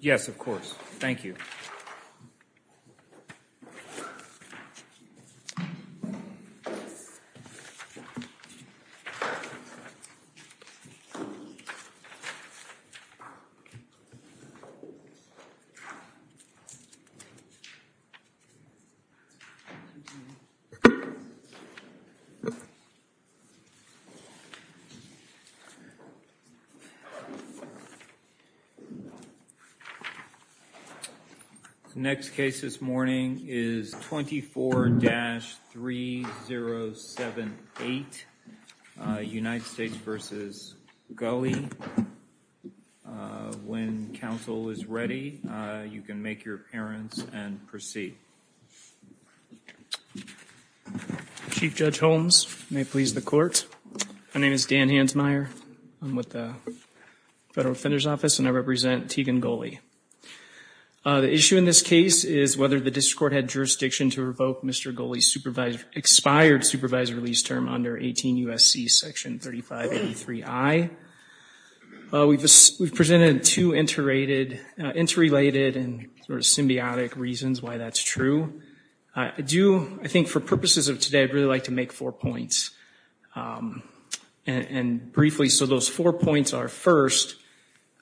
Yes, of course. Thank you. The next case this morning is 24-3078 United States v. Gulley. When counsel is ready, you can make your appearance and proceed. Chief Judge Holmes, may it please the court. My name is Dan Hansmeier. I'm with the Federal Defender's Office and I represent Teagan Gulley. The issue in this case is whether the district court had jurisdiction to revoke Mr. Gulley's expired supervised release term under 18 U.S.C. section 3583I. We've presented two interrelated and sort of symbiotic reasons why that's true. I do, I think for purposes of today, I'd really like to make four points. And briefly, so those four points are, first,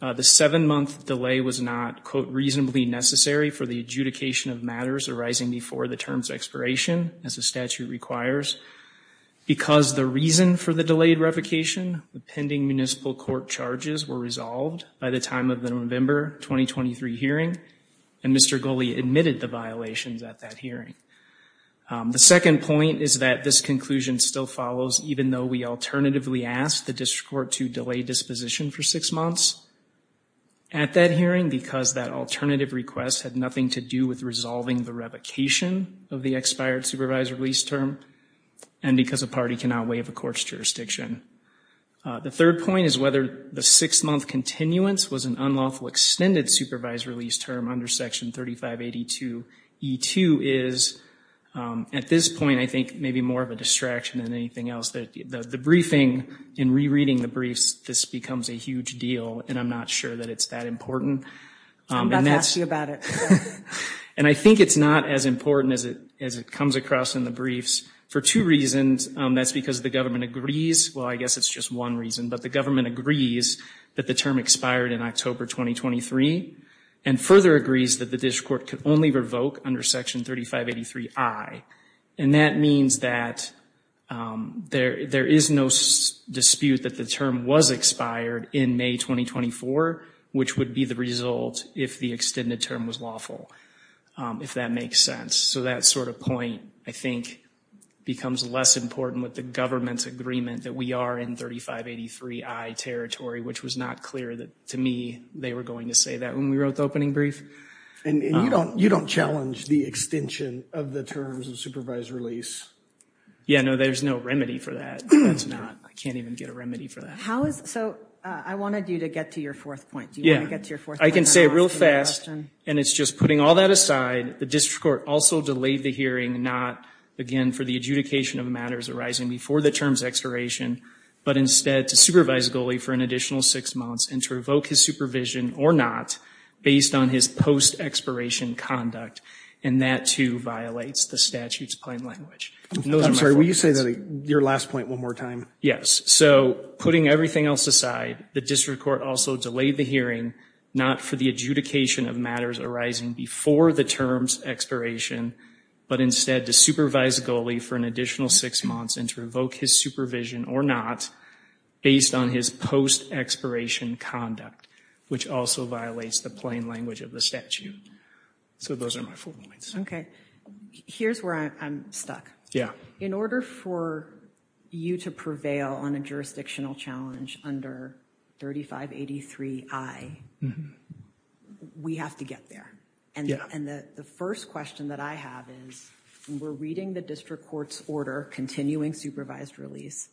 the seven-month delay was not, quote, reasonably necessary for the adjudication of matters arising before the term's expiration, as the statute requires. Because the reason for the delayed revocation, the pending municipal court charges were resolved by the time of the November 2023 hearing, and Mr. Gulley admitted the violations at that hearing. The second point is that this conclusion still follows, even though we alternatively asked the district court to delay disposition for six months at that hearing, because that alternative request had nothing to do with resolving the revocation of the expired supervised release term, and because a party cannot waive a court's jurisdiction. The third point is whether the six-month continuance was an unlawful extended supervised release term under section 3582E2 is, at this point, I think, maybe more of a distraction than anything else. The briefing, in rereading the briefs, this becomes a huge deal, and I'm not sure that it's that important. I'm about to ask you about it. And I think it's not as important as it comes across in the briefs for two reasons. That's because the government agrees, well, I guess it's just one reason, but the government agrees that the term expired in October 2023, and further agrees that the district court could only revoke under section 3583I. And that means that there is no dispute that the term was expired in May 2024, which would be the result if the extended term was lawful, if that makes sense. So that sort of point, I think, becomes less important with the government's agreement that we are in 3583I territory, which was not clear that, to me, they were going to say that when we wrote the opening brief. And you don't challenge the extension of the terms of supervised release. Yeah, no, there's no remedy for that. I can't even get a remedy for that. So I wanted you to get to your fourth point. Do you want to get to your fourth point? I can say it real fast, and it's just putting all that aside. The district court also delayed the hearing, not, again, for the adjudication of matters arising before the term's expiration, but instead to supervise Goley for an additional six months and to revoke his supervision, or not, based on his post-expiration conduct. And that, too, violates the statute's plain language. I'm sorry, will you say your last point one more time? Yes. So, putting everything else aside, the district court also delayed the hearing, not for the adjudication of matters arising before the term's expiration, but instead to supervise Goley for an additional six months and to revoke his supervision, or not, based on his post-expiration conduct, which also violates the plain language of the statute. So those are my four points. Okay. Here's where I'm stuck. Yeah. In order for you to prevail on a jurisdictional challenge under 3583I, we have to get there. Yeah. And the first question that I have is, we're reading the district court's order continuing supervised release,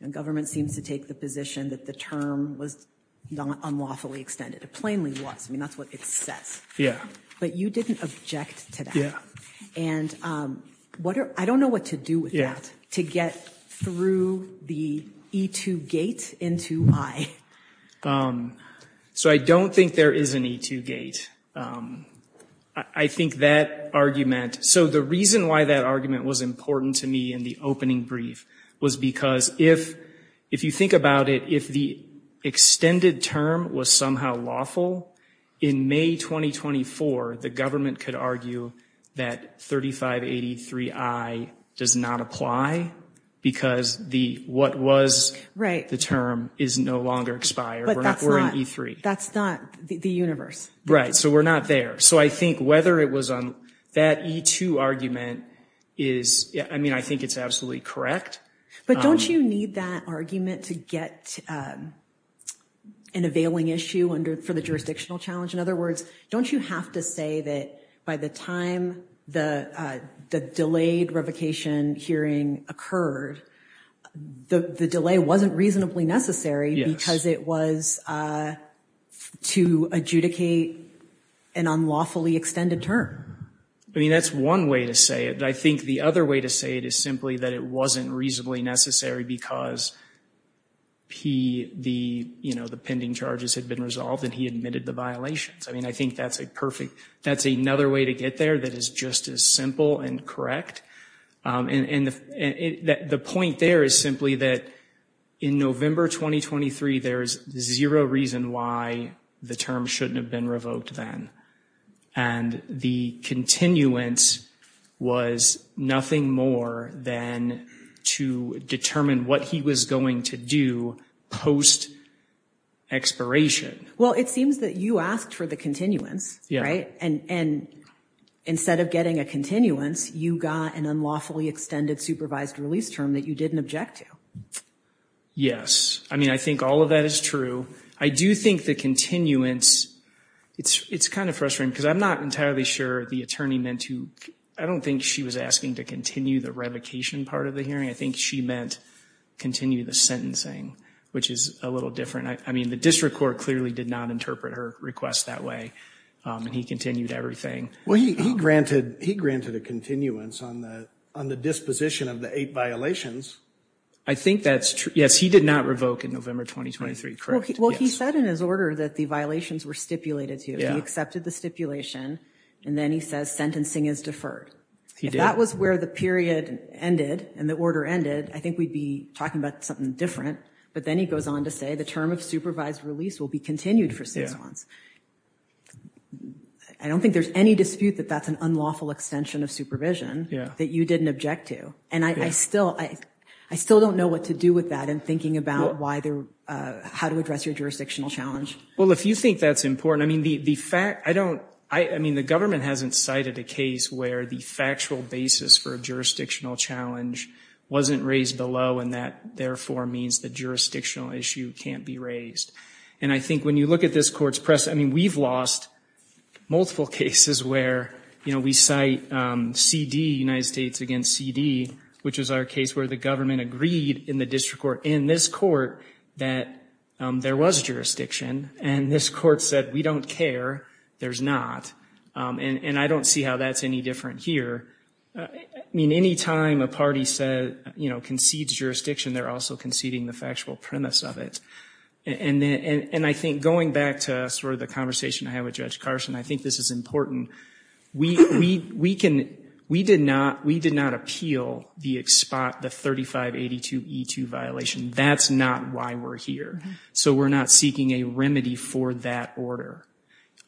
and government seems to take the position that the term was unlawfully extended. It plainly was. I mean, that's what it says. Yeah. But you didn't object to that. Yeah. And I don't know what to do with that, to get through the E-2 gate into I. So I don't think there is an E-2 gate. I think that argument, so the reason why that argument was important to me in the opening brief was because if you think about it, if the extended term was somehow lawful, in May 2024, the government could argue that 3583I does not apply because what was the term is no longer expired. Right. We're in E-3. But that's not the universe. Right. So we're not there. So I think whether it was on that E-2 argument is, I mean, I think it's absolutely correct. But don't you need that argument to get an availing issue for the jurisdictional challenge? In other words, don't you have to say that by the time the delayed revocation hearing occurred, the delay wasn't reasonably necessary because it was to adjudicate an unlawfully extended term? I mean, that's one way to say it. I think the other way to say it is simply that it wasn't reasonably necessary because the pending charges had been resolved and he admitted the violations. I mean, I think that's a perfect, that's another way to get there that is just as simple and correct. And the point there is simply that in November 2023, there is zero reason why the term shouldn't have been revoked then. And the continuance was nothing more than to determine what he was going to do post expiration. Well, it seems that you asked for the continuance. And instead of getting a continuance, you got an unlawfully extended supervised release term that you didn't object to. Yes. I mean, I think all of that is true. I do think the continuance, it's kind of frustrating because I'm not entirely sure the attorney meant to, I don't think she was asking to continue the revocation part of the hearing. I think she meant continue the sentencing, which is a little different. I mean, the district court clearly did not interpret her request that way. And he continued everything. Well, he granted a continuance on the disposition of the eight violations. I think that's true. Yes, he did not revoke in November 2023, correct? Well, he said in his order that the violations were stipulated to. He accepted the stipulation. And then he says sentencing is deferred. If that was where the period ended and the order ended, I think we'd be talking about something different. But then he goes on to say the term of supervised release will be continued for six months. I don't think there's any dispute that that's an unlawful extension of supervision that you didn't object to. And I still don't know what to do with that in thinking about how to address your jurisdictional challenge. Well, if you think that's important, I mean, the government hasn't cited a case where the factual basis for a jurisdictional challenge wasn't raised below and that therefore means the jurisdictional issue can't be raised. And I think when you look at this court's press, I mean, we've lost multiple cases where, you know, we cite CD, United States against CD, which is our case where the government agreed in the district court in this court that there was jurisdiction. And this court said we don't care. There's not. And I don't see how that's any different here. I mean, any time a party concedes jurisdiction, they're also conceding the factual premise of it. And I think going back to sort of the conversation I had with Judge Carson, I think this is important. We did not appeal the 3582E2 violation. That's not why we're here. So we're not seeking a remedy for that order.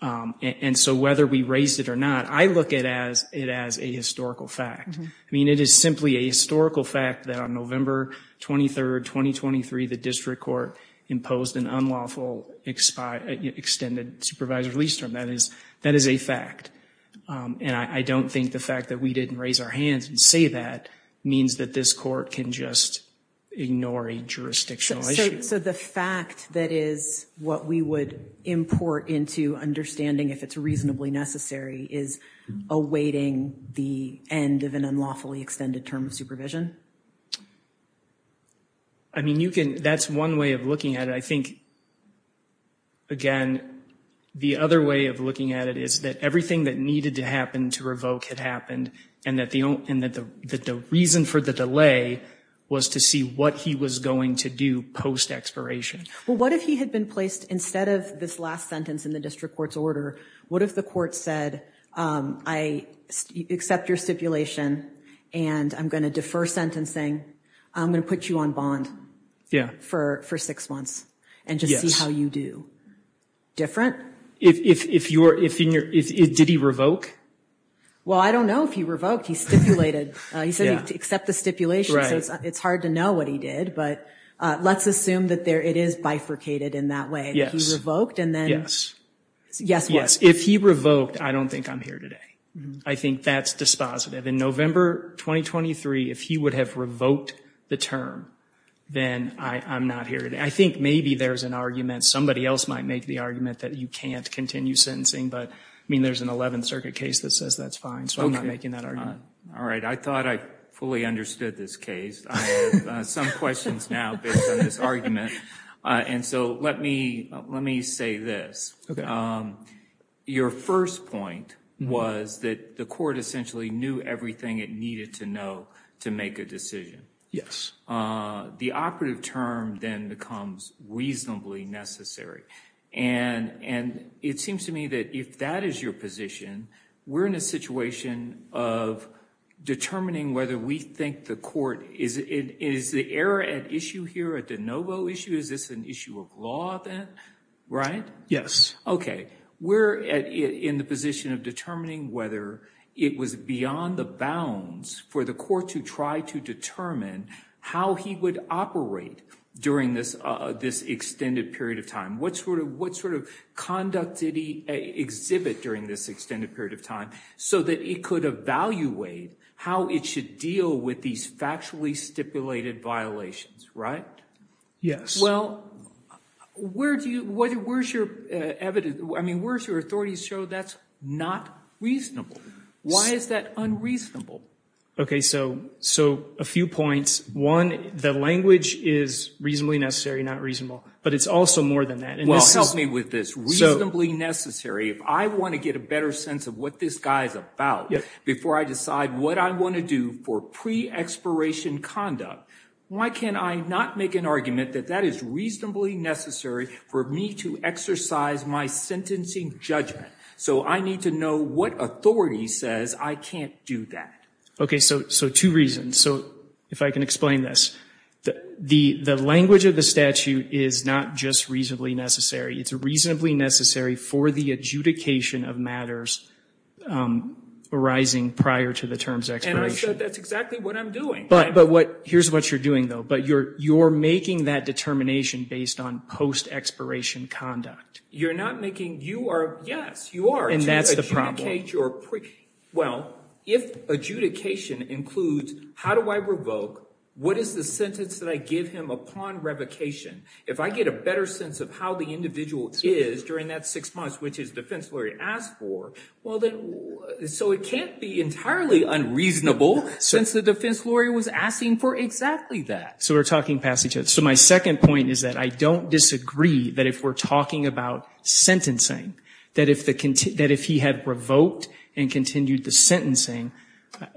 And so whether we raised it or not, I look at it as a historical fact. I mean, it is simply a historical fact that on November 23rd, 2023, the district court imposed an unlawful extended supervisor's lease term. That is a fact. And I don't think the fact that we didn't raise our hands and say that means that this court can just ignore a jurisdictional issue. So the fact that is what we would import into understanding if it's reasonably necessary is awaiting the end of an unlawfully extended term of supervision? I mean, that's one way of looking at it. I think, again, the other way of looking at it is that everything that needed to happen to revoke had happened, and that the reason for the delay was to see what he was going to do post-expiration. Well, what if he had been placed, instead of this last sentence in the district court's order, what if the court said, I accept your stipulation, and I'm going to defer sentencing. I'm going to put you on bond. Yeah. For six months. And just see how you do. Different? Did he revoke? Well, I don't know if he revoked. He stipulated. He said he'd accept the stipulation. Right. So it's hard to know what he did. But let's assume that it is bifurcated in that way. Yes. He revoked, and then guess what? Yes. If he revoked, I don't think I'm here today. I think that's dispositive. In November 2023, if he would have revoked the term, then I'm not here today. I think maybe there's an argument. Somebody else might make the argument that you can't continue sentencing. But, I mean, there's an 11th Circuit case that says that's fine. So I'm not making that argument. All right. I thought I fully understood this case. I have some questions now based on this argument. And so let me say this. Okay. Your first point was that the court essentially knew everything it needed to know to make a decision. The operative term then becomes reasonably necessary. And it seems to me that if that is your position, we're in a situation of determining whether we think the court is the error at issue here at the NoVo issue. Is this an issue of law then? Right? Yes. Okay. We're in the position of determining whether it was beyond the bounds for the court to try to determine how he would operate during this extended period of time. What sort of conduct did he exhibit during this extended period of time so that he could evaluate how it should deal with these factually stipulated violations, right? Yes. Well, where's your evidence? I mean, where's your authority to show that's not reasonable? Why is that unreasonable? Okay. So a few points. One, the language is reasonably necessary, not reasonable. But it's also more than that. Well, help me with this. Reasonably necessary, if I want to get a better sense of what this guy is about before I decide what I want to do for pre-expiration conduct, why can I not make an argument that that is reasonably necessary for me to exercise my sentencing judgment? So I need to know what authority says I can't do that. Okay. So two reasons. So if I can explain this. The language of the statute is not just reasonably necessary. It's reasonably necessary for the adjudication of matters arising prior to the term's expiration. And I said that's exactly what I'm doing. But here's what you're doing, though. But you're making that determination based on post-expiration conduct. You're not making you are. Yes, you are. And that's the problem. Well, if adjudication includes how do I revoke, what is the sentence that I give him upon revocation? If I get a better sense of how the individual is during that six months, which his defense lawyer asked for, so it can't be entirely unreasonable since the defense lawyer was asking for exactly that. So we're talking past each other. So my second point is that I don't disagree that if we're talking about sentencing, that if he had revoked and continued the sentencing,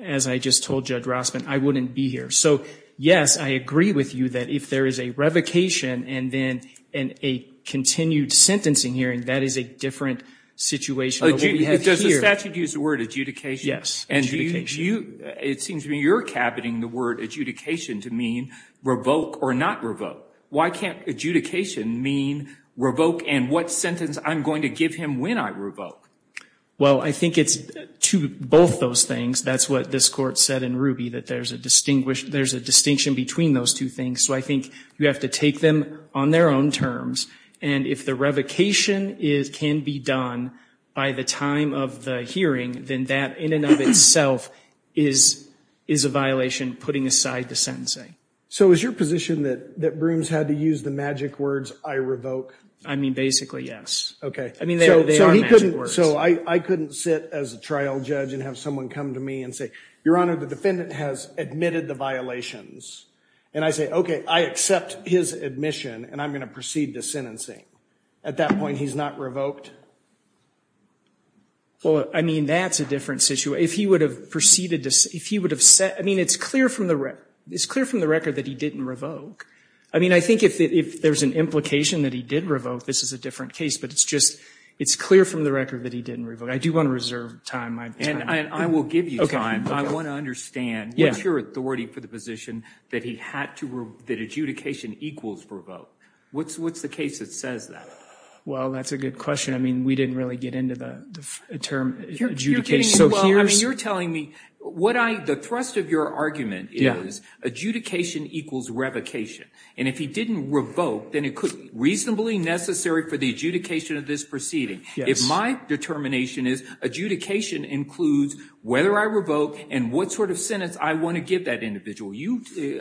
as I just told Judge Rossman, I wouldn't be here. So, yes, I agree with you that if there is a revocation and then a continued sentencing hearing, that is a different situation than what we have here. Does the statute use the word adjudication? Yes, adjudication. It seems to me you're caboting the word adjudication to mean revoke or not revoke. Why can't adjudication mean revoke and what sentence I'm going to give him when I revoke? Well, I think it's to both those things. That's what this Court said in Ruby, that there's a distinction between those two things. So I think you have to take them on their own terms. And if the revocation can be done by the time of the hearing, then that in and of itself is a violation putting aside the sentencing. So is your position that Brooms had to use the magic words, I revoke? I mean, basically, yes. Okay. I mean, they are magic words. So I couldn't sit as a trial judge and have someone come to me and say, Your Honor, the defendant has admitted the violations. And I say, okay, I accept his admission and I'm going to proceed to sentencing. At that point, he's not revoked? Well, I mean, that's a different situation. I mean, it's clear from the record that he didn't revoke. I mean, I think if there's an implication that he did revoke, this is a different case. But it's clear from the record that he didn't revoke. I do want to reserve time. And I will give you time. I want to understand, what's your authority for the position that adjudication equals revoke? What's the case that says that? Well, that's a good question. I mean, we didn't really get into the term adjudication. Well, I mean, you're telling me the thrust of your argument is adjudication equals revocation. And if he didn't revoke, then it could be reasonably necessary for the adjudication of this proceeding. If my determination is adjudication includes whether I revoke and what sort of sentence I want to give that individual.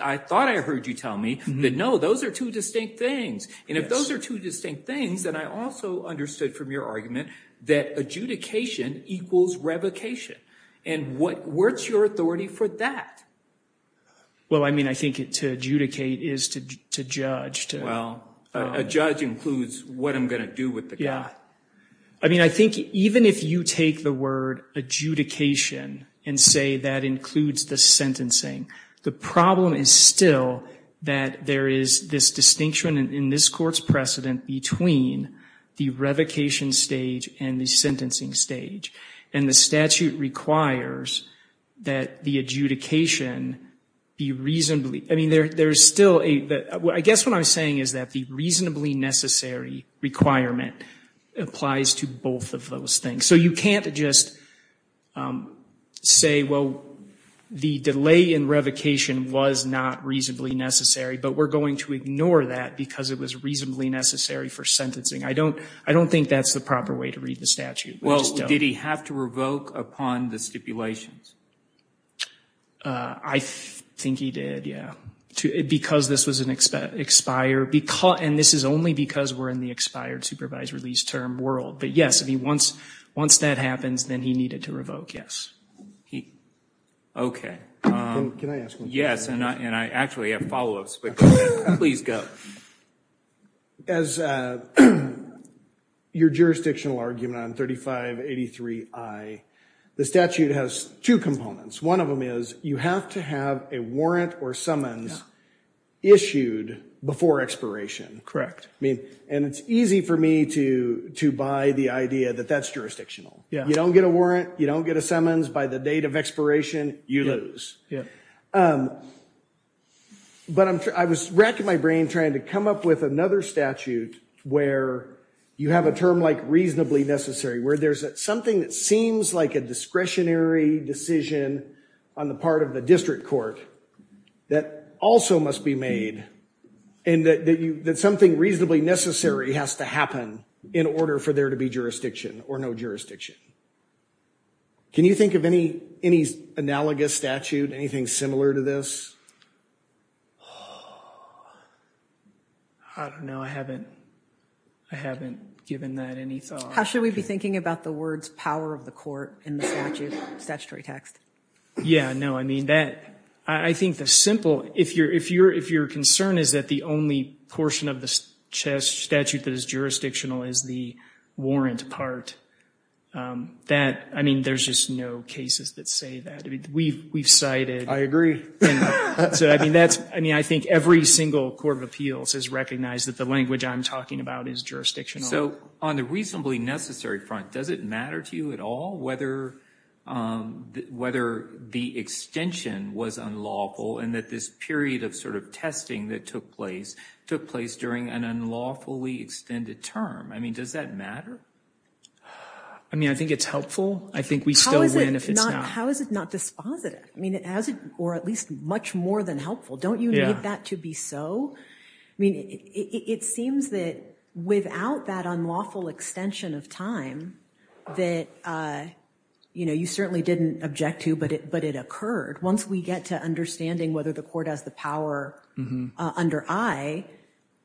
I thought I heard you tell me that, no, those are two distinct things. And if those are two distinct things, then I also understood from your revocation. And what's your authority for that? Well, I mean, I think to adjudicate is to judge. Well, a judge includes what I'm going to do with the guy. Yeah. I mean, I think even if you take the word adjudication and say that includes the sentencing, the problem is still that there is this distinction in this court's precedent between the revocation stage and the sentencing stage. And the statute requires that the adjudication be reasonably – I mean, there's still a – I guess what I'm saying is that the reasonably necessary requirement applies to both of those things. So you can't just say, well, the delay in revocation was not reasonably necessary, but we're going to ignore that because it was reasonably necessary for sentencing. I don't think that's the proper way to read the statute. Well, did he have to revoke upon the stipulations? I think he did, yeah, because this was an expired – and this is only because we're in the expired supervised release term world. But yes, I mean, once that happens, then he needed to revoke, yes. Okay. Can I ask one more question? Yes, and I actually have follow-ups, but please go. As your jurisdictional argument on 3583I, the statute has two components. One of them is you have to have a warrant or summons issued before expiration. And it's easy for me to buy the idea that that's jurisdictional. You don't get a warrant, you don't get a summons. By the date of expiration, you lose. But I was racking my brain trying to come up with another statute where you have a term like reasonably necessary, where there's something that seems like a discretionary decision on the part of the district court that also must be made and that something reasonably necessary has to happen in order for there to be jurisdiction or no jurisdiction. Can you think of any analogous statute, anything similar to this? I don't know. I haven't given that any thought. How should we be thinking about the words power of the court in the statute, statutory text? Yes. No, I mean, I think the simple, if your concern is that the only portion of the statute that is jurisdictional is the warrant part, that, I mean, there's just no cases that say that. We've cited. I agree. So, I mean, that's, I mean, I think every single court of appeals has recognized that the language I'm talking about is jurisdictional. So on the reasonably necessary front, does it matter to you at all whether the extension was unlawful and that this period of sort of testing that took place during an unlawfully extended term? I mean, does that matter? I mean, I think it's helpful. I think we still win if it's not. How is it not dispositive? I mean, or at least much more than helpful? Don't you need that to be so? I mean, it seems that without that unlawful extension of time that, you know, you certainly didn't object to, but it occurred. Once we get to understanding whether the court has the power under I,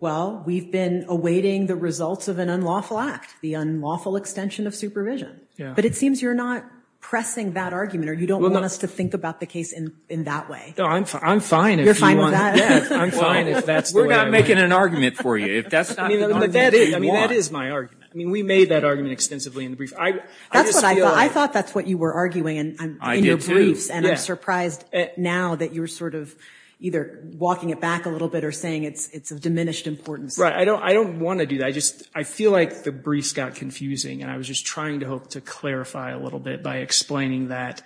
well, we've been awaiting the results of an unlawful act, the unlawful extension of supervision. But it seems you're not pressing that argument or you don't want us to think about the case in that way. No, I'm fine. You're fine with that? I'm fine if that's the way I want it. We're not making an argument for you. I mean, that is my argument. I mean, we made that argument extensively in the brief. I just feel. I thought that's what you were arguing in your briefs. And I'm surprised now that you're sort of either walking it back a little bit or saying it's of diminished importance. Right. I don't want to do that. I just feel like the briefs got confusing. And I was just trying to hope to clarify a little bit by explaining that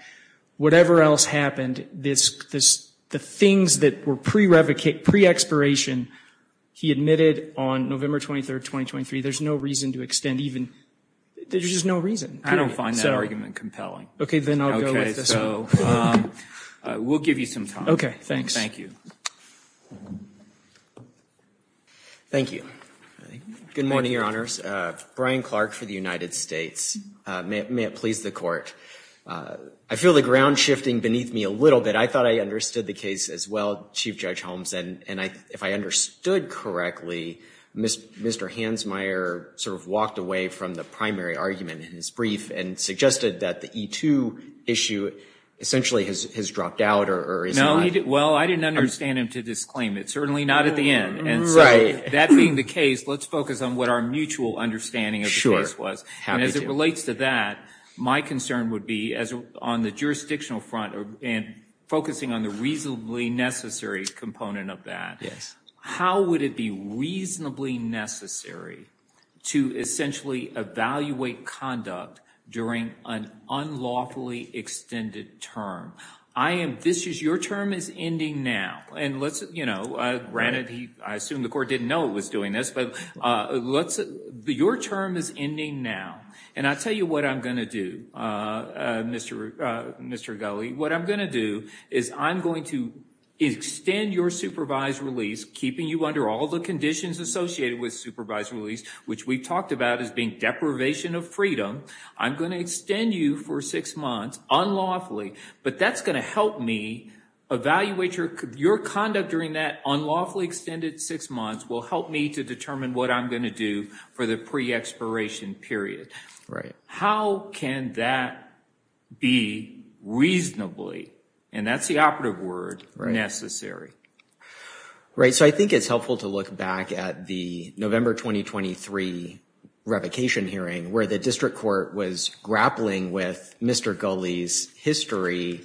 whatever else happened, the things that were pre-expiration, he admitted on November 23rd, 2023, there's no reason to extend even. There's just no reason. I don't find that argument compelling. Okay. Then I'll go with this one. So we'll give you some time. Okay. Thanks. Thank you. Thank you. Good morning, Your Honors. Brian Clark for the United States. May it please the Court. I feel the ground shifting beneath me a little bit. I thought I understood the case as well, Chief Judge Holmes. And if I understood correctly, Mr. Hansmeier sort of walked away from the primary argument in his brief and suggested that the E2 issue essentially has dropped out or is not. Well, I didn't understand him to disclaim it. Certainly not at the end. Right. And so that being the case, let's focus on what our mutual understanding of the case was. Happy to. And as it relates to that, my concern would be on the jurisdictional front and focusing on the reasonably necessary component of that, how would it be reasonably necessary to essentially evaluate conduct during an unlawfully extended term? I am, this is, your term is ending now. And let's, you know, granted, I assume the Court didn't know it was doing this, but let's, your term is ending now. And I'll tell you what I'm going to do, Mr. Gulley. What I'm going to do is I'm going to extend your supervised release, keeping you under all the conditions associated with supervised release, which we've talked about as being deprivation of freedom. I'm going to extend you for six months unlawfully, but that's going to help me evaluate your conduct during that unlawfully extended six months will help me to determine what I'm going to do for the pre-expiration period. Right. How can that be reasonably, and that's the operative word, necessary? Right. So I think it's helpful to look back at the November 2023 revocation hearing where the district court was grappling with Mr. Gulley's history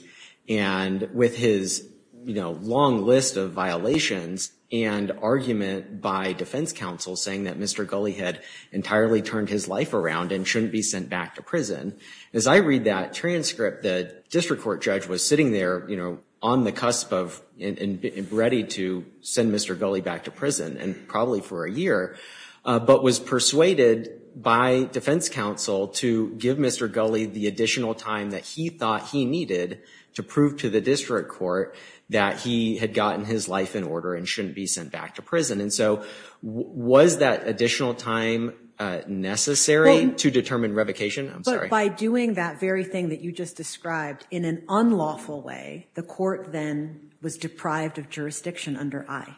and with his, you know, long list of violations and argument by defense counsel saying that Mr. Gulley had entirely turned his life around and shouldn't be sent back to As I read that transcript, the district court judge was sitting there, you know, on the cusp of ready to send Mr. Gulley back to prison and probably for a year, but was persuaded by defense counsel to give Mr. Gulley the additional time that he thought he needed to prove to the district court that he had gotten his life in order and shouldn't be sent back to prison. And so was that additional time necessary to determine revocation? I'm sorry. But by doing that very thing that you just described in an unlawful way, the court then was deprived of jurisdiction under I.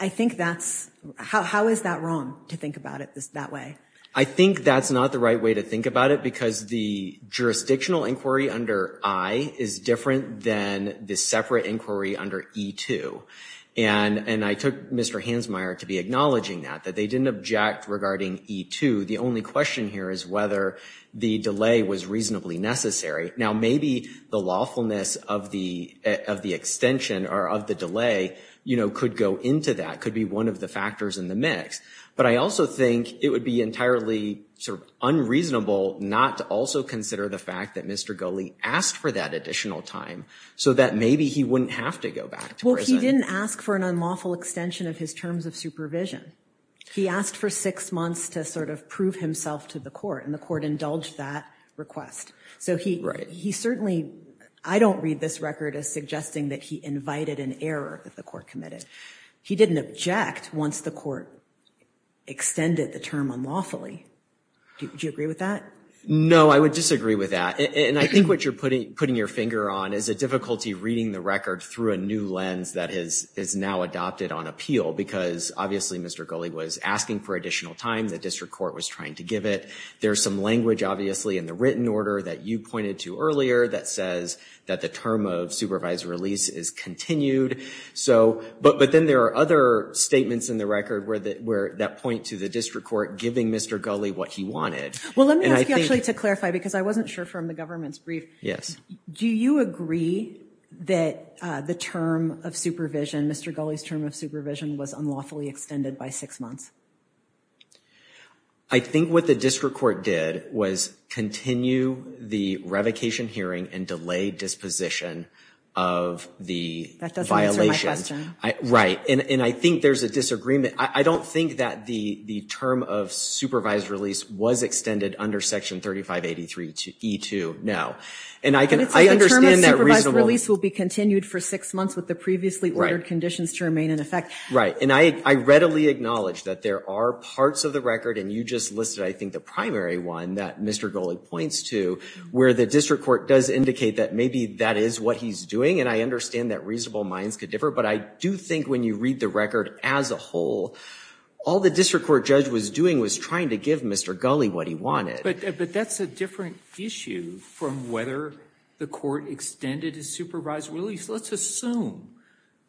I think that's, how is that wrong to think about it that way? I think that's not the right way to think about it because the jurisdictional inquiry under I is different than the separate inquiry under E2. And I took Mr. Hansmeier to be acknowledging that, that they didn't object regarding E2. The only question here is whether the delay was reasonably necessary. Now, maybe the lawfulness of the extension or of the delay, you know, could go into that, could be one of the factors in the mix. But I also think it would be entirely sort of unreasonable not to also consider the fact that Mr. Gulley asked for that additional time so that maybe he wouldn't have to go back to prison. Well, he didn't ask for an unlawful extension of his terms of supervision. He asked for six months to sort of prove himself to the court, and the court indulged that request. So he certainly, I don't read this record as suggesting that he invited an error that the court committed. He didn't object once the court extended the term unlawfully. Do you agree with that? No, I would disagree with that. And I think what you're putting your finger on is a difficulty reading the record through a new lens that is now adopted on appeal, because obviously Mr. Gulley was asking for additional time. The district court was trying to give it. There's some language, obviously, in the written order that you pointed to earlier that says that the term of supervised release is continued. But then there are other statements in the record that point to the district court giving Mr. Gulley what he wanted. Well, let me ask you actually to clarify, because I wasn't sure from the government's brief. Yes. Do you agree that the term of supervision, Mr. Gulley's term of supervision, was unlawfully extended by six months? I think what the district court did was continue the revocation hearing and delay disposition of the violation. That doesn't answer my question. Right. And I think there's a disagreement. I don't think that the term of supervised release was extended under Section 3583E2, no. And I understand that reasonable. It's the term of supervised release will be continued for six months with the previously ordered conditions to remain in effect. Right. And I readily acknowledge that there are parts of the record, and you just listed I think the primary one that Mr. Gulley points to, where the district court does indicate that maybe that is what he's doing, and I understand that reasonable minds could differ. But I do think when you read the record as a whole, all the district court judge was doing was trying to give Mr. Gulley what he wanted. But that's a different issue from whether the court extended his supervised release. Let's assume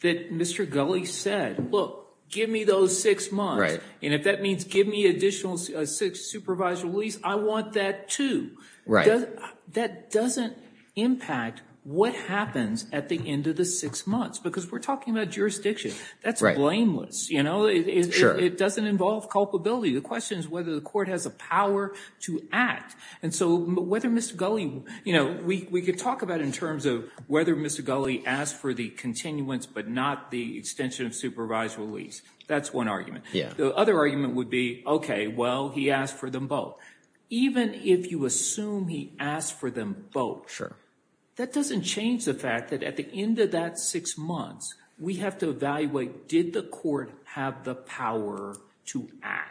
that Mr. Gulley said, look, give me those six months. Right. And if that means give me additional supervised release, I want that too. Right. That doesn't impact what happens at the end of the six months, because we're talking about jurisdiction. That's blameless, you know. Sure. It doesn't involve culpability. The question is whether the court has the power to act. And so whether Mr. Gulley, you know, we could talk about in terms of whether Mr. Gulley asked for the continuance but not the extension of supervised release. That's one argument. Yeah. The other argument would be, okay, well, he asked for them both. Even if you assume he asked for them both, that doesn't change the fact that at the end of that six months, we have to evaluate did the court have the power to act.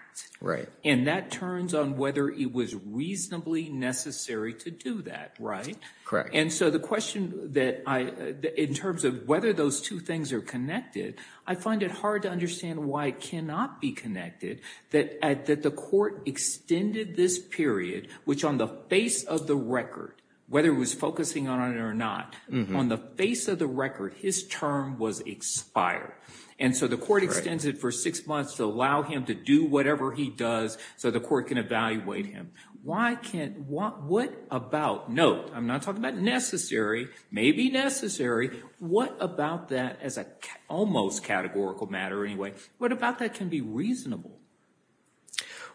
And that turns on whether it was reasonably necessary to do that. Right. Correct. And so the question in terms of whether those two things are connected, I find it hard to understand why it cannot be connected that the court extended this period, which on the face of the record, whether it was focusing on it or not, on the face of the record, his term was expired. And so the court extended for six months to allow him to do whatever he does so the court can evaluate him. Why can't, what about, note, I'm not talking about necessary, maybe necessary. What about that as an almost categorical matter anyway, what about that can be reasonable?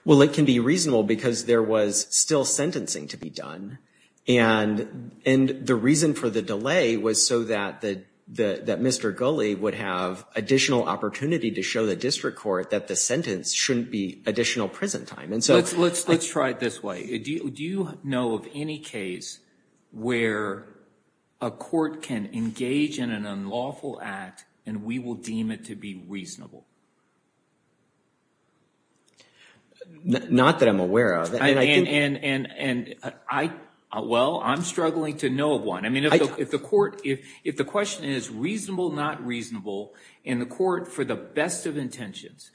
Well, it can be reasonable because there was still sentencing to be done. And the reason for the delay was so that Mr. Gulley would have additional opportunity to show the district court that the sentence shouldn't be additional prison time. Let's try it this way. Do you know of any case where a court can engage in an unlawful act and we will deem it to be reasonable? Not that I'm aware of. And, well, I'm struggling to know of one. I mean, if the court, if the question is reasonable, not reasonable, and the court for the best of intentions,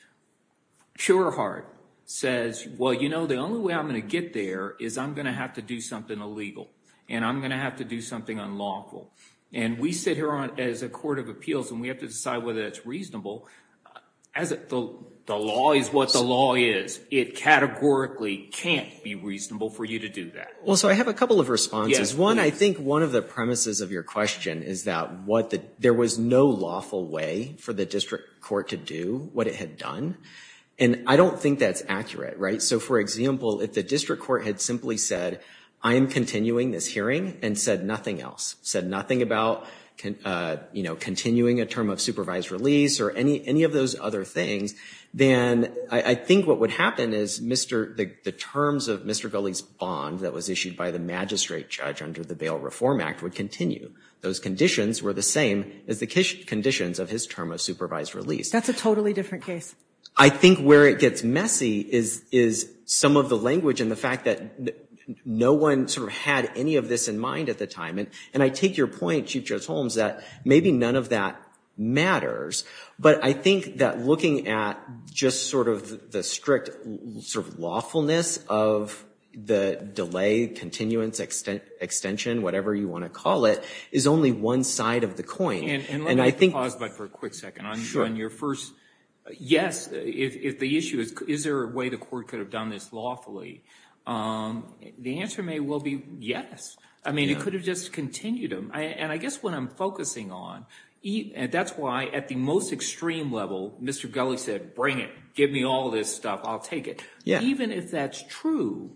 pure heart, says, well, you know, the only way I'm going to get there is I'm going to have to do something illegal and I'm going to have to do something unlawful. And we sit here as a court of appeals and we have to decide whether that's reasonable. The law is what the law is. It categorically can't be reasonable for you to do that. Well, so I have a couple of responses. One, I think one of the premises of your question is that there was no lawful way for the district court to do what it had done. And I don't think that's accurate, right? So, for example, if the district court had simply said, I am continuing this hearing and said nothing else, said nothing about, you know, continuing a term of supervised release or any of those other things, then I think what would happen is the terms of Mr. Gulley's bond that was issued by the magistrate judge under the Bail Reform Act would continue. Those conditions were the same as the conditions of his term of supervised release. That's a totally different case. I think where it gets messy is some of the language and the fact that no one sort of had any of this in mind at the time. And I take your point, Chief Judge Holmes, that maybe none of that matters. But I think that looking at just sort of the strict sort of lawfulness of the delay, continuance, extension, whatever you want to call it, is only one side of the coin. And I think... And let's pause for a quick second. Sure. On your first yes, if the issue is, is there a way the court could have done this lawfully? The answer may well be yes. I mean, it could have just continued them. And I guess what I'm focusing on, and that's why at the most extreme level Mr. Gulley said, bring it. Give me all this stuff. I'll take it. Even if that's true,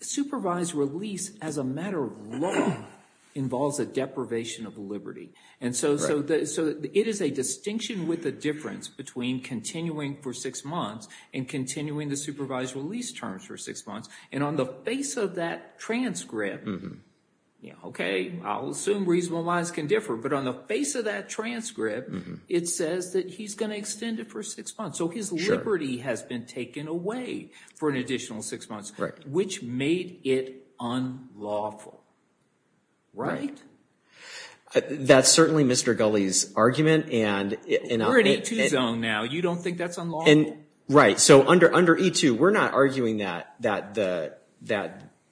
supervised release as a matter of law involves a deprivation of liberty. And so it is a distinction with a difference between continuing for six months and continuing the supervised release terms for six months. And on the face of that transcript, okay, I'll assume reasonable minds can differ. But on the face of that transcript, it says that he's going to extend it for six months. So his liberty has been taken away for an additional six months, which made it unlawful. Right? That's certainly Mr. Gulley's argument. We're in E2 zone now. You don't think that's unlawful? Right. So under E2, we're not arguing that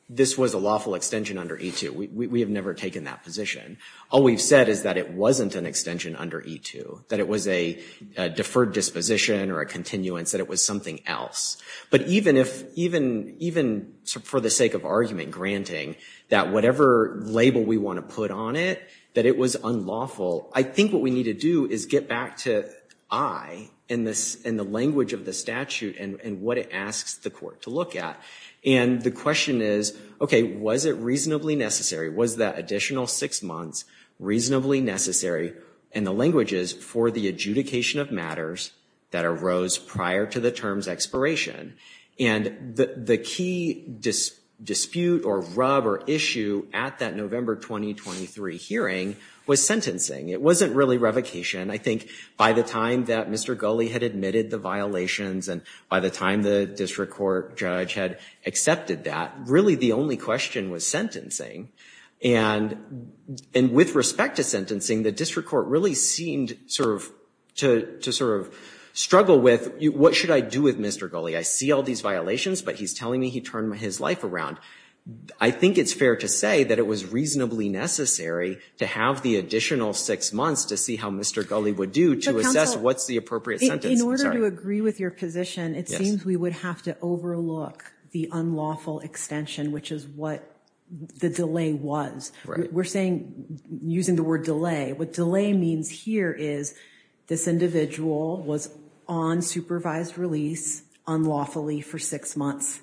this was a lawful extension under E2. We have never taken that position. All we've said is that it wasn't an extension under E2, that it was a deferred disposition or a continuance, that it was something else. But even for the sake of argument granting, that whatever label we want to put on it, that it was unlawful, I think what we need to do is get back to I and the statute and what it asks the court to look at. And the question is, okay, was it reasonably necessary? Was that additional six months reasonably necessary in the languages for the adjudication of matters that arose prior to the term's expiration? And the key dispute or rub or issue at that November 2023 hearing was sentencing. It wasn't really revocation. I think by the time that Mr. Gulley had admitted the violations and by the time the district court judge had accepted that, really the only question was sentencing. And with respect to sentencing, the district court really seemed to sort of struggle with, what should I do with Mr. Gulley? I see all these violations, but he's telling me he turned his life around. I think it's fair to say that it was reasonably necessary to have the Gulley would do to assess what's the appropriate sentence. In order to agree with your position, it seems we would have to overlook the unlawful extension, which is what the delay was. We're saying, using the word delay, what delay means here is this individual was on supervised release unlawfully for six months.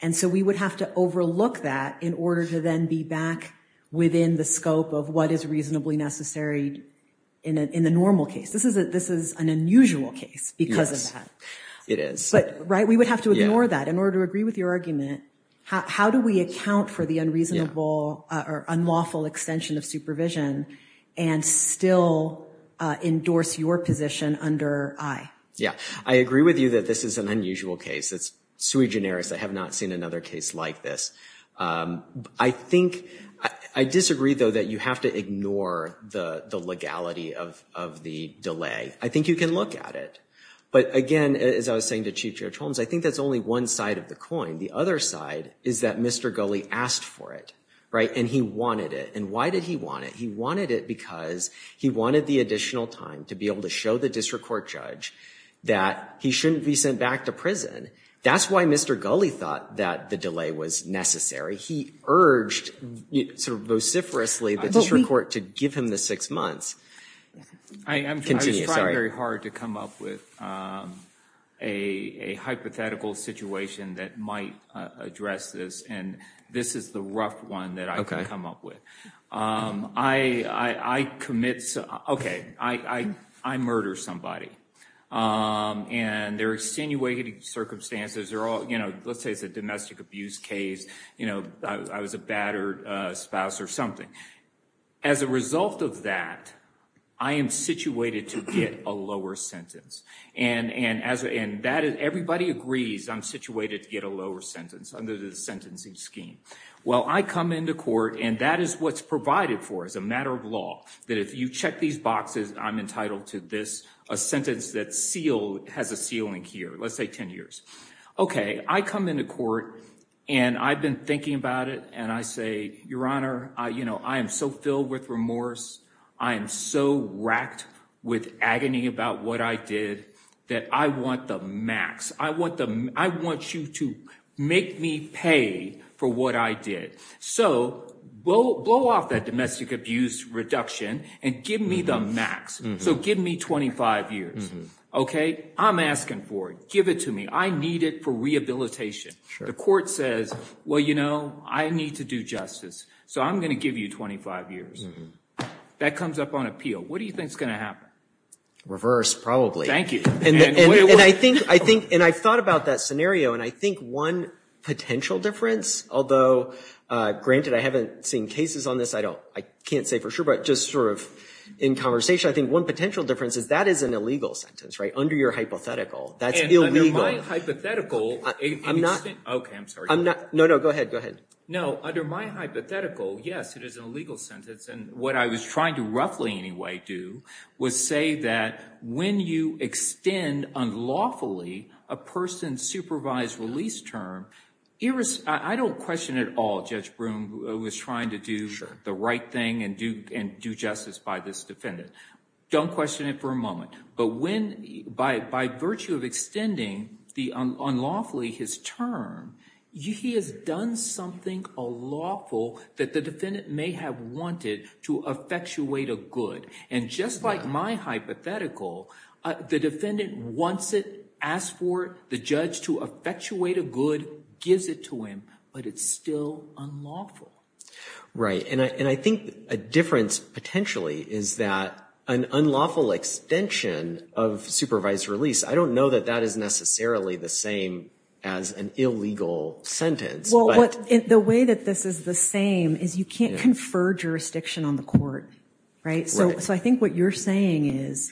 And so we would have to overlook that in order to then be back within the scope of what is reasonably necessary in the normal case. This is an unusual case because of that. Yes, it is. Right? We would have to ignore that. In order to agree with your argument, how do we account for the unreasonable or unlawful extension of supervision and still endorse your position under I? Yeah, I agree with you that this is an unusual case. It's sui generis. I have not seen another case like this. I think I disagree, though, that you have to ignore the legality of the delay. I think you can look at it. But again, as I was saying to Chief Judge Holmes, I think that's only one side of the coin. The other side is that Mr. Gulley asked for it. Right? And he wanted it. And why did he want it? He wanted it because he wanted the additional time to be able to show the district court judge that he shouldn't be sent back to prison. That's why Mr. Gulley thought that the delay was necessary. He urged, sort of vociferously, the district court to give him the six months. Continue, sorry. I was trying very hard to come up with a hypothetical situation that might address this. And this is the rough one that I could come up with. Okay. I commit, okay, I murder somebody. And there are extenuating circumstances. You know, let's say it's a domestic abuse case. You know, I was a battered spouse or something. As a result of that, I am situated to get a lower sentence. And everybody agrees I'm situated to get a lower sentence under the sentencing scheme. Well, I come into court and that is what's provided for as a matter of law, that if you check these boxes, I'm entitled to this, a sentence that has a ceiling here. Let's say 10 years. Okay. I come into court and I've been thinking about it and I say, Your Honor, you know, I am so filled with remorse. I am so wracked with agony about what I did that I want the max. I want you to make me pay for what I did. So blow off that domestic abuse reduction and give me the max. So give me 25 years. Okay. I'm asking for it. Give it to me. I need it for rehabilitation. The court says, well, you know, I need to do justice. So I'm going to give you 25 years. That comes up on appeal. What do you think is going to happen? Reverse, probably. And I think, and I've thought about that scenario, and I think one potential difference, although, granted, I haven't seen cases on this, I can't say for sure, but just sort of in conversation, I think one potential difference is that is an illegal sentence, right, under your hypothetical. That's illegal. And under my hypothetical. I'm not. Okay, I'm sorry. No, no, go ahead. Go ahead. No, under my hypothetical, yes, it is an illegal sentence. And what I was trying to roughly anyway do was say that when you extend unlawfully a person's supervised release term, I don't question at all Judge Broome was trying to do the right thing and do justice by this defendant. Don't question it for a moment. But when, by virtue of extending unlawfully his term, he has done something unlawful that the defendant may have wanted to effectuate a good. And just like my hypothetical, the defendant wants it, asks for the judge to effectuate a good, gives it to him, but it's still unlawful. Right. And I think a difference potentially is that an unlawful extension of supervised release, I don't know that that is necessarily the same as an illegal sentence. Well, the way that this is the same is you can't confer jurisdiction on the court, right? Right. So I think what you're saying is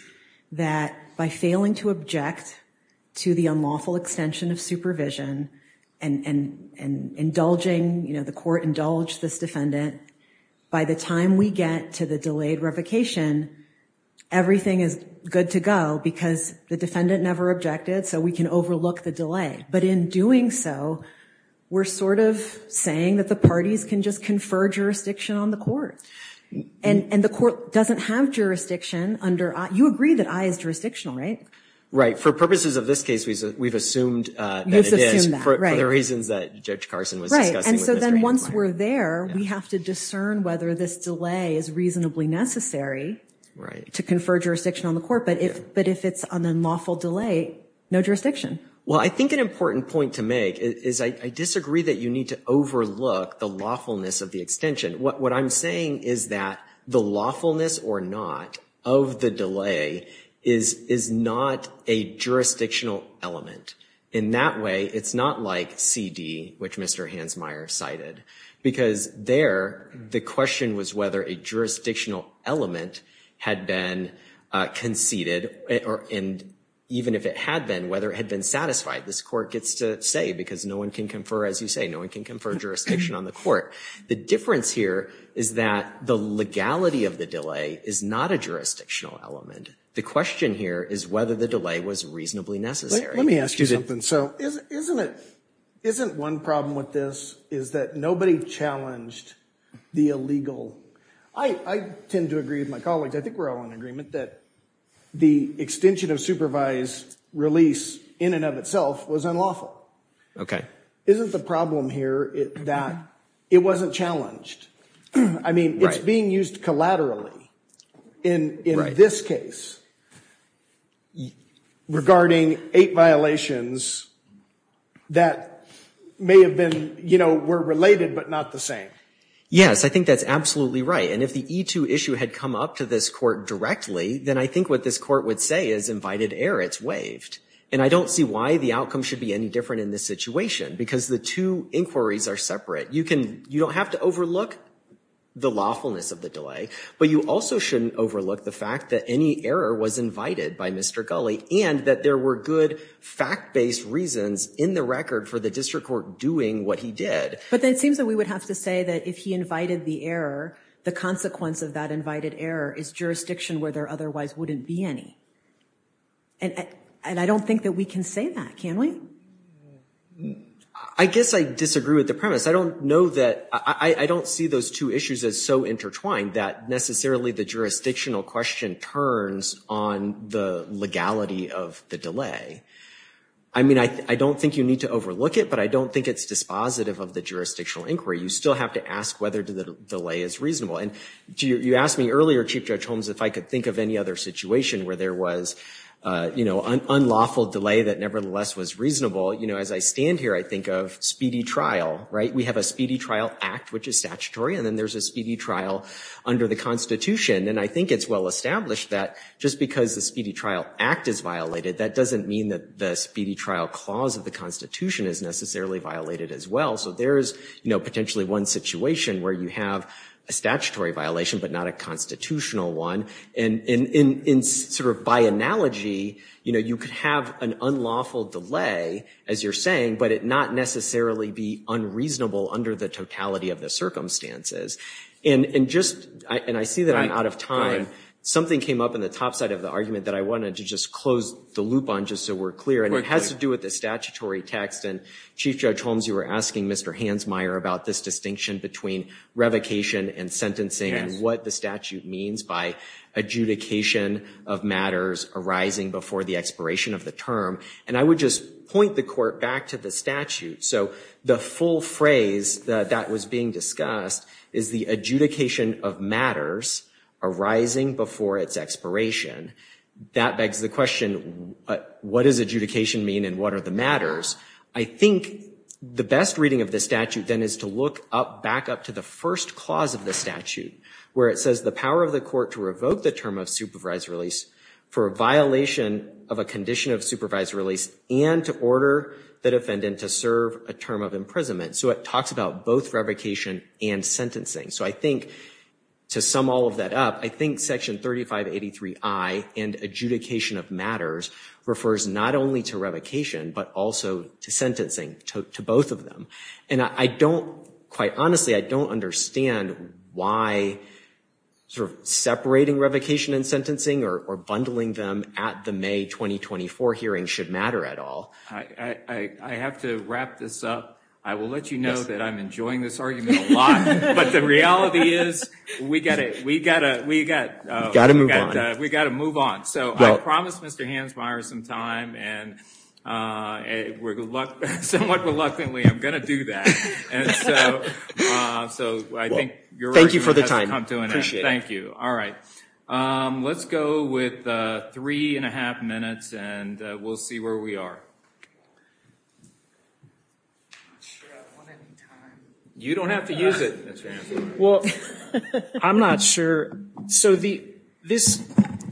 that by failing to object to the unlawful extension of supervision and indulging, you know, the court indulged this defendant, by the time we get to the delayed revocation, everything is good to go because the defendant never objected, so we can overlook the delay. But in doing so, we're sort of saying that the parties can just confer jurisdiction on the The court doesn't have jurisdiction under, you agree that I is jurisdictional, right? For purposes of this case, we've assumed that it is, for the reasons that Judge Carson was discussing. And so then once we're there, we have to discern whether this delay is reasonably necessary to confer jurisdiction on the court. But if it's an unlawful delay, no jurisdiction. Well, I think an important point to make is I disagree that you need to overlook the lawfulness of the extension. What I'm saying is that the lawfulness or not of the delay is, is not a jurisdictional element in that way. It's not like CD, which Mr. Hansmeier cited because there the question was whether a jurisdictional element had been conceded or, and even if it had been, whether it had been satisfied, this court gets to say, because no one can confer, as you say, no one can confer jurisdiction on the court. The difference here is that the legality of the delay is not a jurisdictional element. The question here is whether the delay was reasonably necessary. Let me ask you something. So isn't it, isn't one problem with this, is that nobody challenged the illegal. I tend to agree with my colleagues. I think we're all in agreement that the extension of supervised release in and of itself was unlawful. Okay. Isn't the problem here that it wasn't challenged? I mean, it's being used collaterally in, in this case regarding eight violations that may have been, you know, were related, but not the same. Yes. I think that's absolutely right. And if the E2 issue had come up to this court directly, then I think what this court would say is invited air, it's waived. And I don't see why the outcome should be any different in this situation because the two inquiries are separate. You can, you don't have to overlook the lawfulness of the delay, but you also shouldn't overlook the fact that any error was invited by Mr. Gully and that there were good fact-based reasons in the record for the district court doing what he did. But then it seems that we would have to say that if he invited the error, the consequence of that invited error is jurisdiction where there otherwise wouldn't be any. And I don't think that we can say that, can we? I guess I disagree with the premise. I don't know that, I don't see those two issues as so intertwined that necessarily the jurisdictional question turns on the legality of the delay. I mean, I don't think you need to overlook it, but I don't think it's dispositive of the jurisdictional inquiry. You still have to ask whether the delay is reasonable. And do you, you asked me earlier, Chief Judge Holmes, if I could think of any other situation where there was, you know, an unlawful delay that nevertheless was reasonable, you know, as I stand here, I think of speedy trial, right? We have a speedy trial act, which is statutory. And then there's a speedy trial under the constitution. And I think it's well-established that just because the speedy trial act is violated, that doesn't mean that the speedy trial clause of the constitution is necessarily violated as well. So there's, you know, potentially one situation where you have a statutory violation, but not a constitutional one. And in, in, in sort of by analogy, you know, you could have an unlawful delay as you're saying, but it not necessarily be unreasonable under the totality of the circumstances. And, and just, and I see that I'm out of time. Something came up in the top side of the argument that I wanted to just close the loop on, just so we're clear. And it has to do with the statutory text and Chief Judge Holmes, you were asking Mr. Hansmeier about this distinction between revocation and what the statute means by adjudication of matters arising before the expiration of the term. And I would just point the court back to the statute. So the full phrase that, that was being discussed is the adjudication of matters arising before its expiration. That begs the question, what does adjudication mean and what are the matters? I think the best reading of the statute then is to look up back up to the first clause of the statute, where it says the power of the court to revoke the term of supervised release for a violation of a condition of supervised release and to order the defendant to serve a term of imprisonment. So it talks about both revocation and sentencing. So I think to sum all of that up, I think section 3583 I and adjudication of matters refers not only to revocation, but also to sentencing to both of them. And I don't, quite honestly, I don't understand why sort of separating revocation and sentencing or, or bundling them at the May 2024 hearing should matter at all. I have to wrap this up. I will let you know that I'm enjoying this argument a lot, but the reality is we gotta, we gotta, we gotta, we gotta move on. So I promised Mr. Hansmeier some time and we're somewhat reluctantly, I'm going to do that. And so, so I think you're right. Thank you for the time. I appreciate it. Thank you. All right. Let's go with three and a half minutes and we'll see where we are. You don't have to use it. Well, I'm not sure. So the, this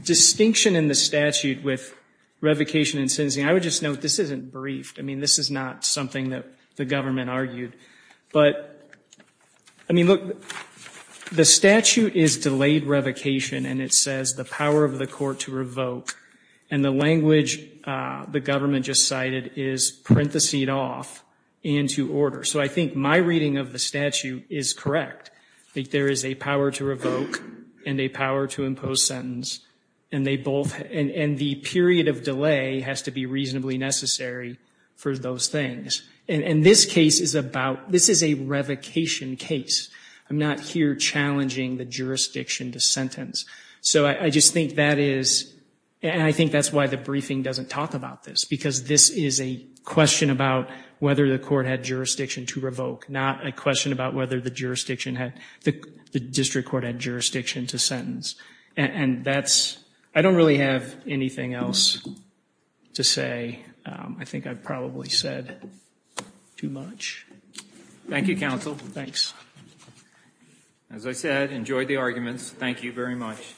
distinction in the statute with revocation and sentencing, I would just note, this isn't briefed. I mean, this is not something that the government argued, but I mean, look, the statute is delayed revocation and it says the power of the court to revoke and the language the government just cited is parenthesized off into order. So I think my reading of the statute is correct. I think there is a power to revoke and a power to impose sentence and they are reasonably necessary for those things. And this case is about, this is a revocation case. I'm not here challenging the jurisdiction to sentence. So I just think that is, and I think that's why the briefing doesn't talk about this because this is a question about whether the court had jurisdiction to revoke, not a question about whether the jurisdiction had, the district court had jurisdiction to sentence. And that's, I don't really have anything else to say. I think I've probably said too much. Thank you, counsel. Thanks. As I said, enjoyed the arguments. Thank you very much.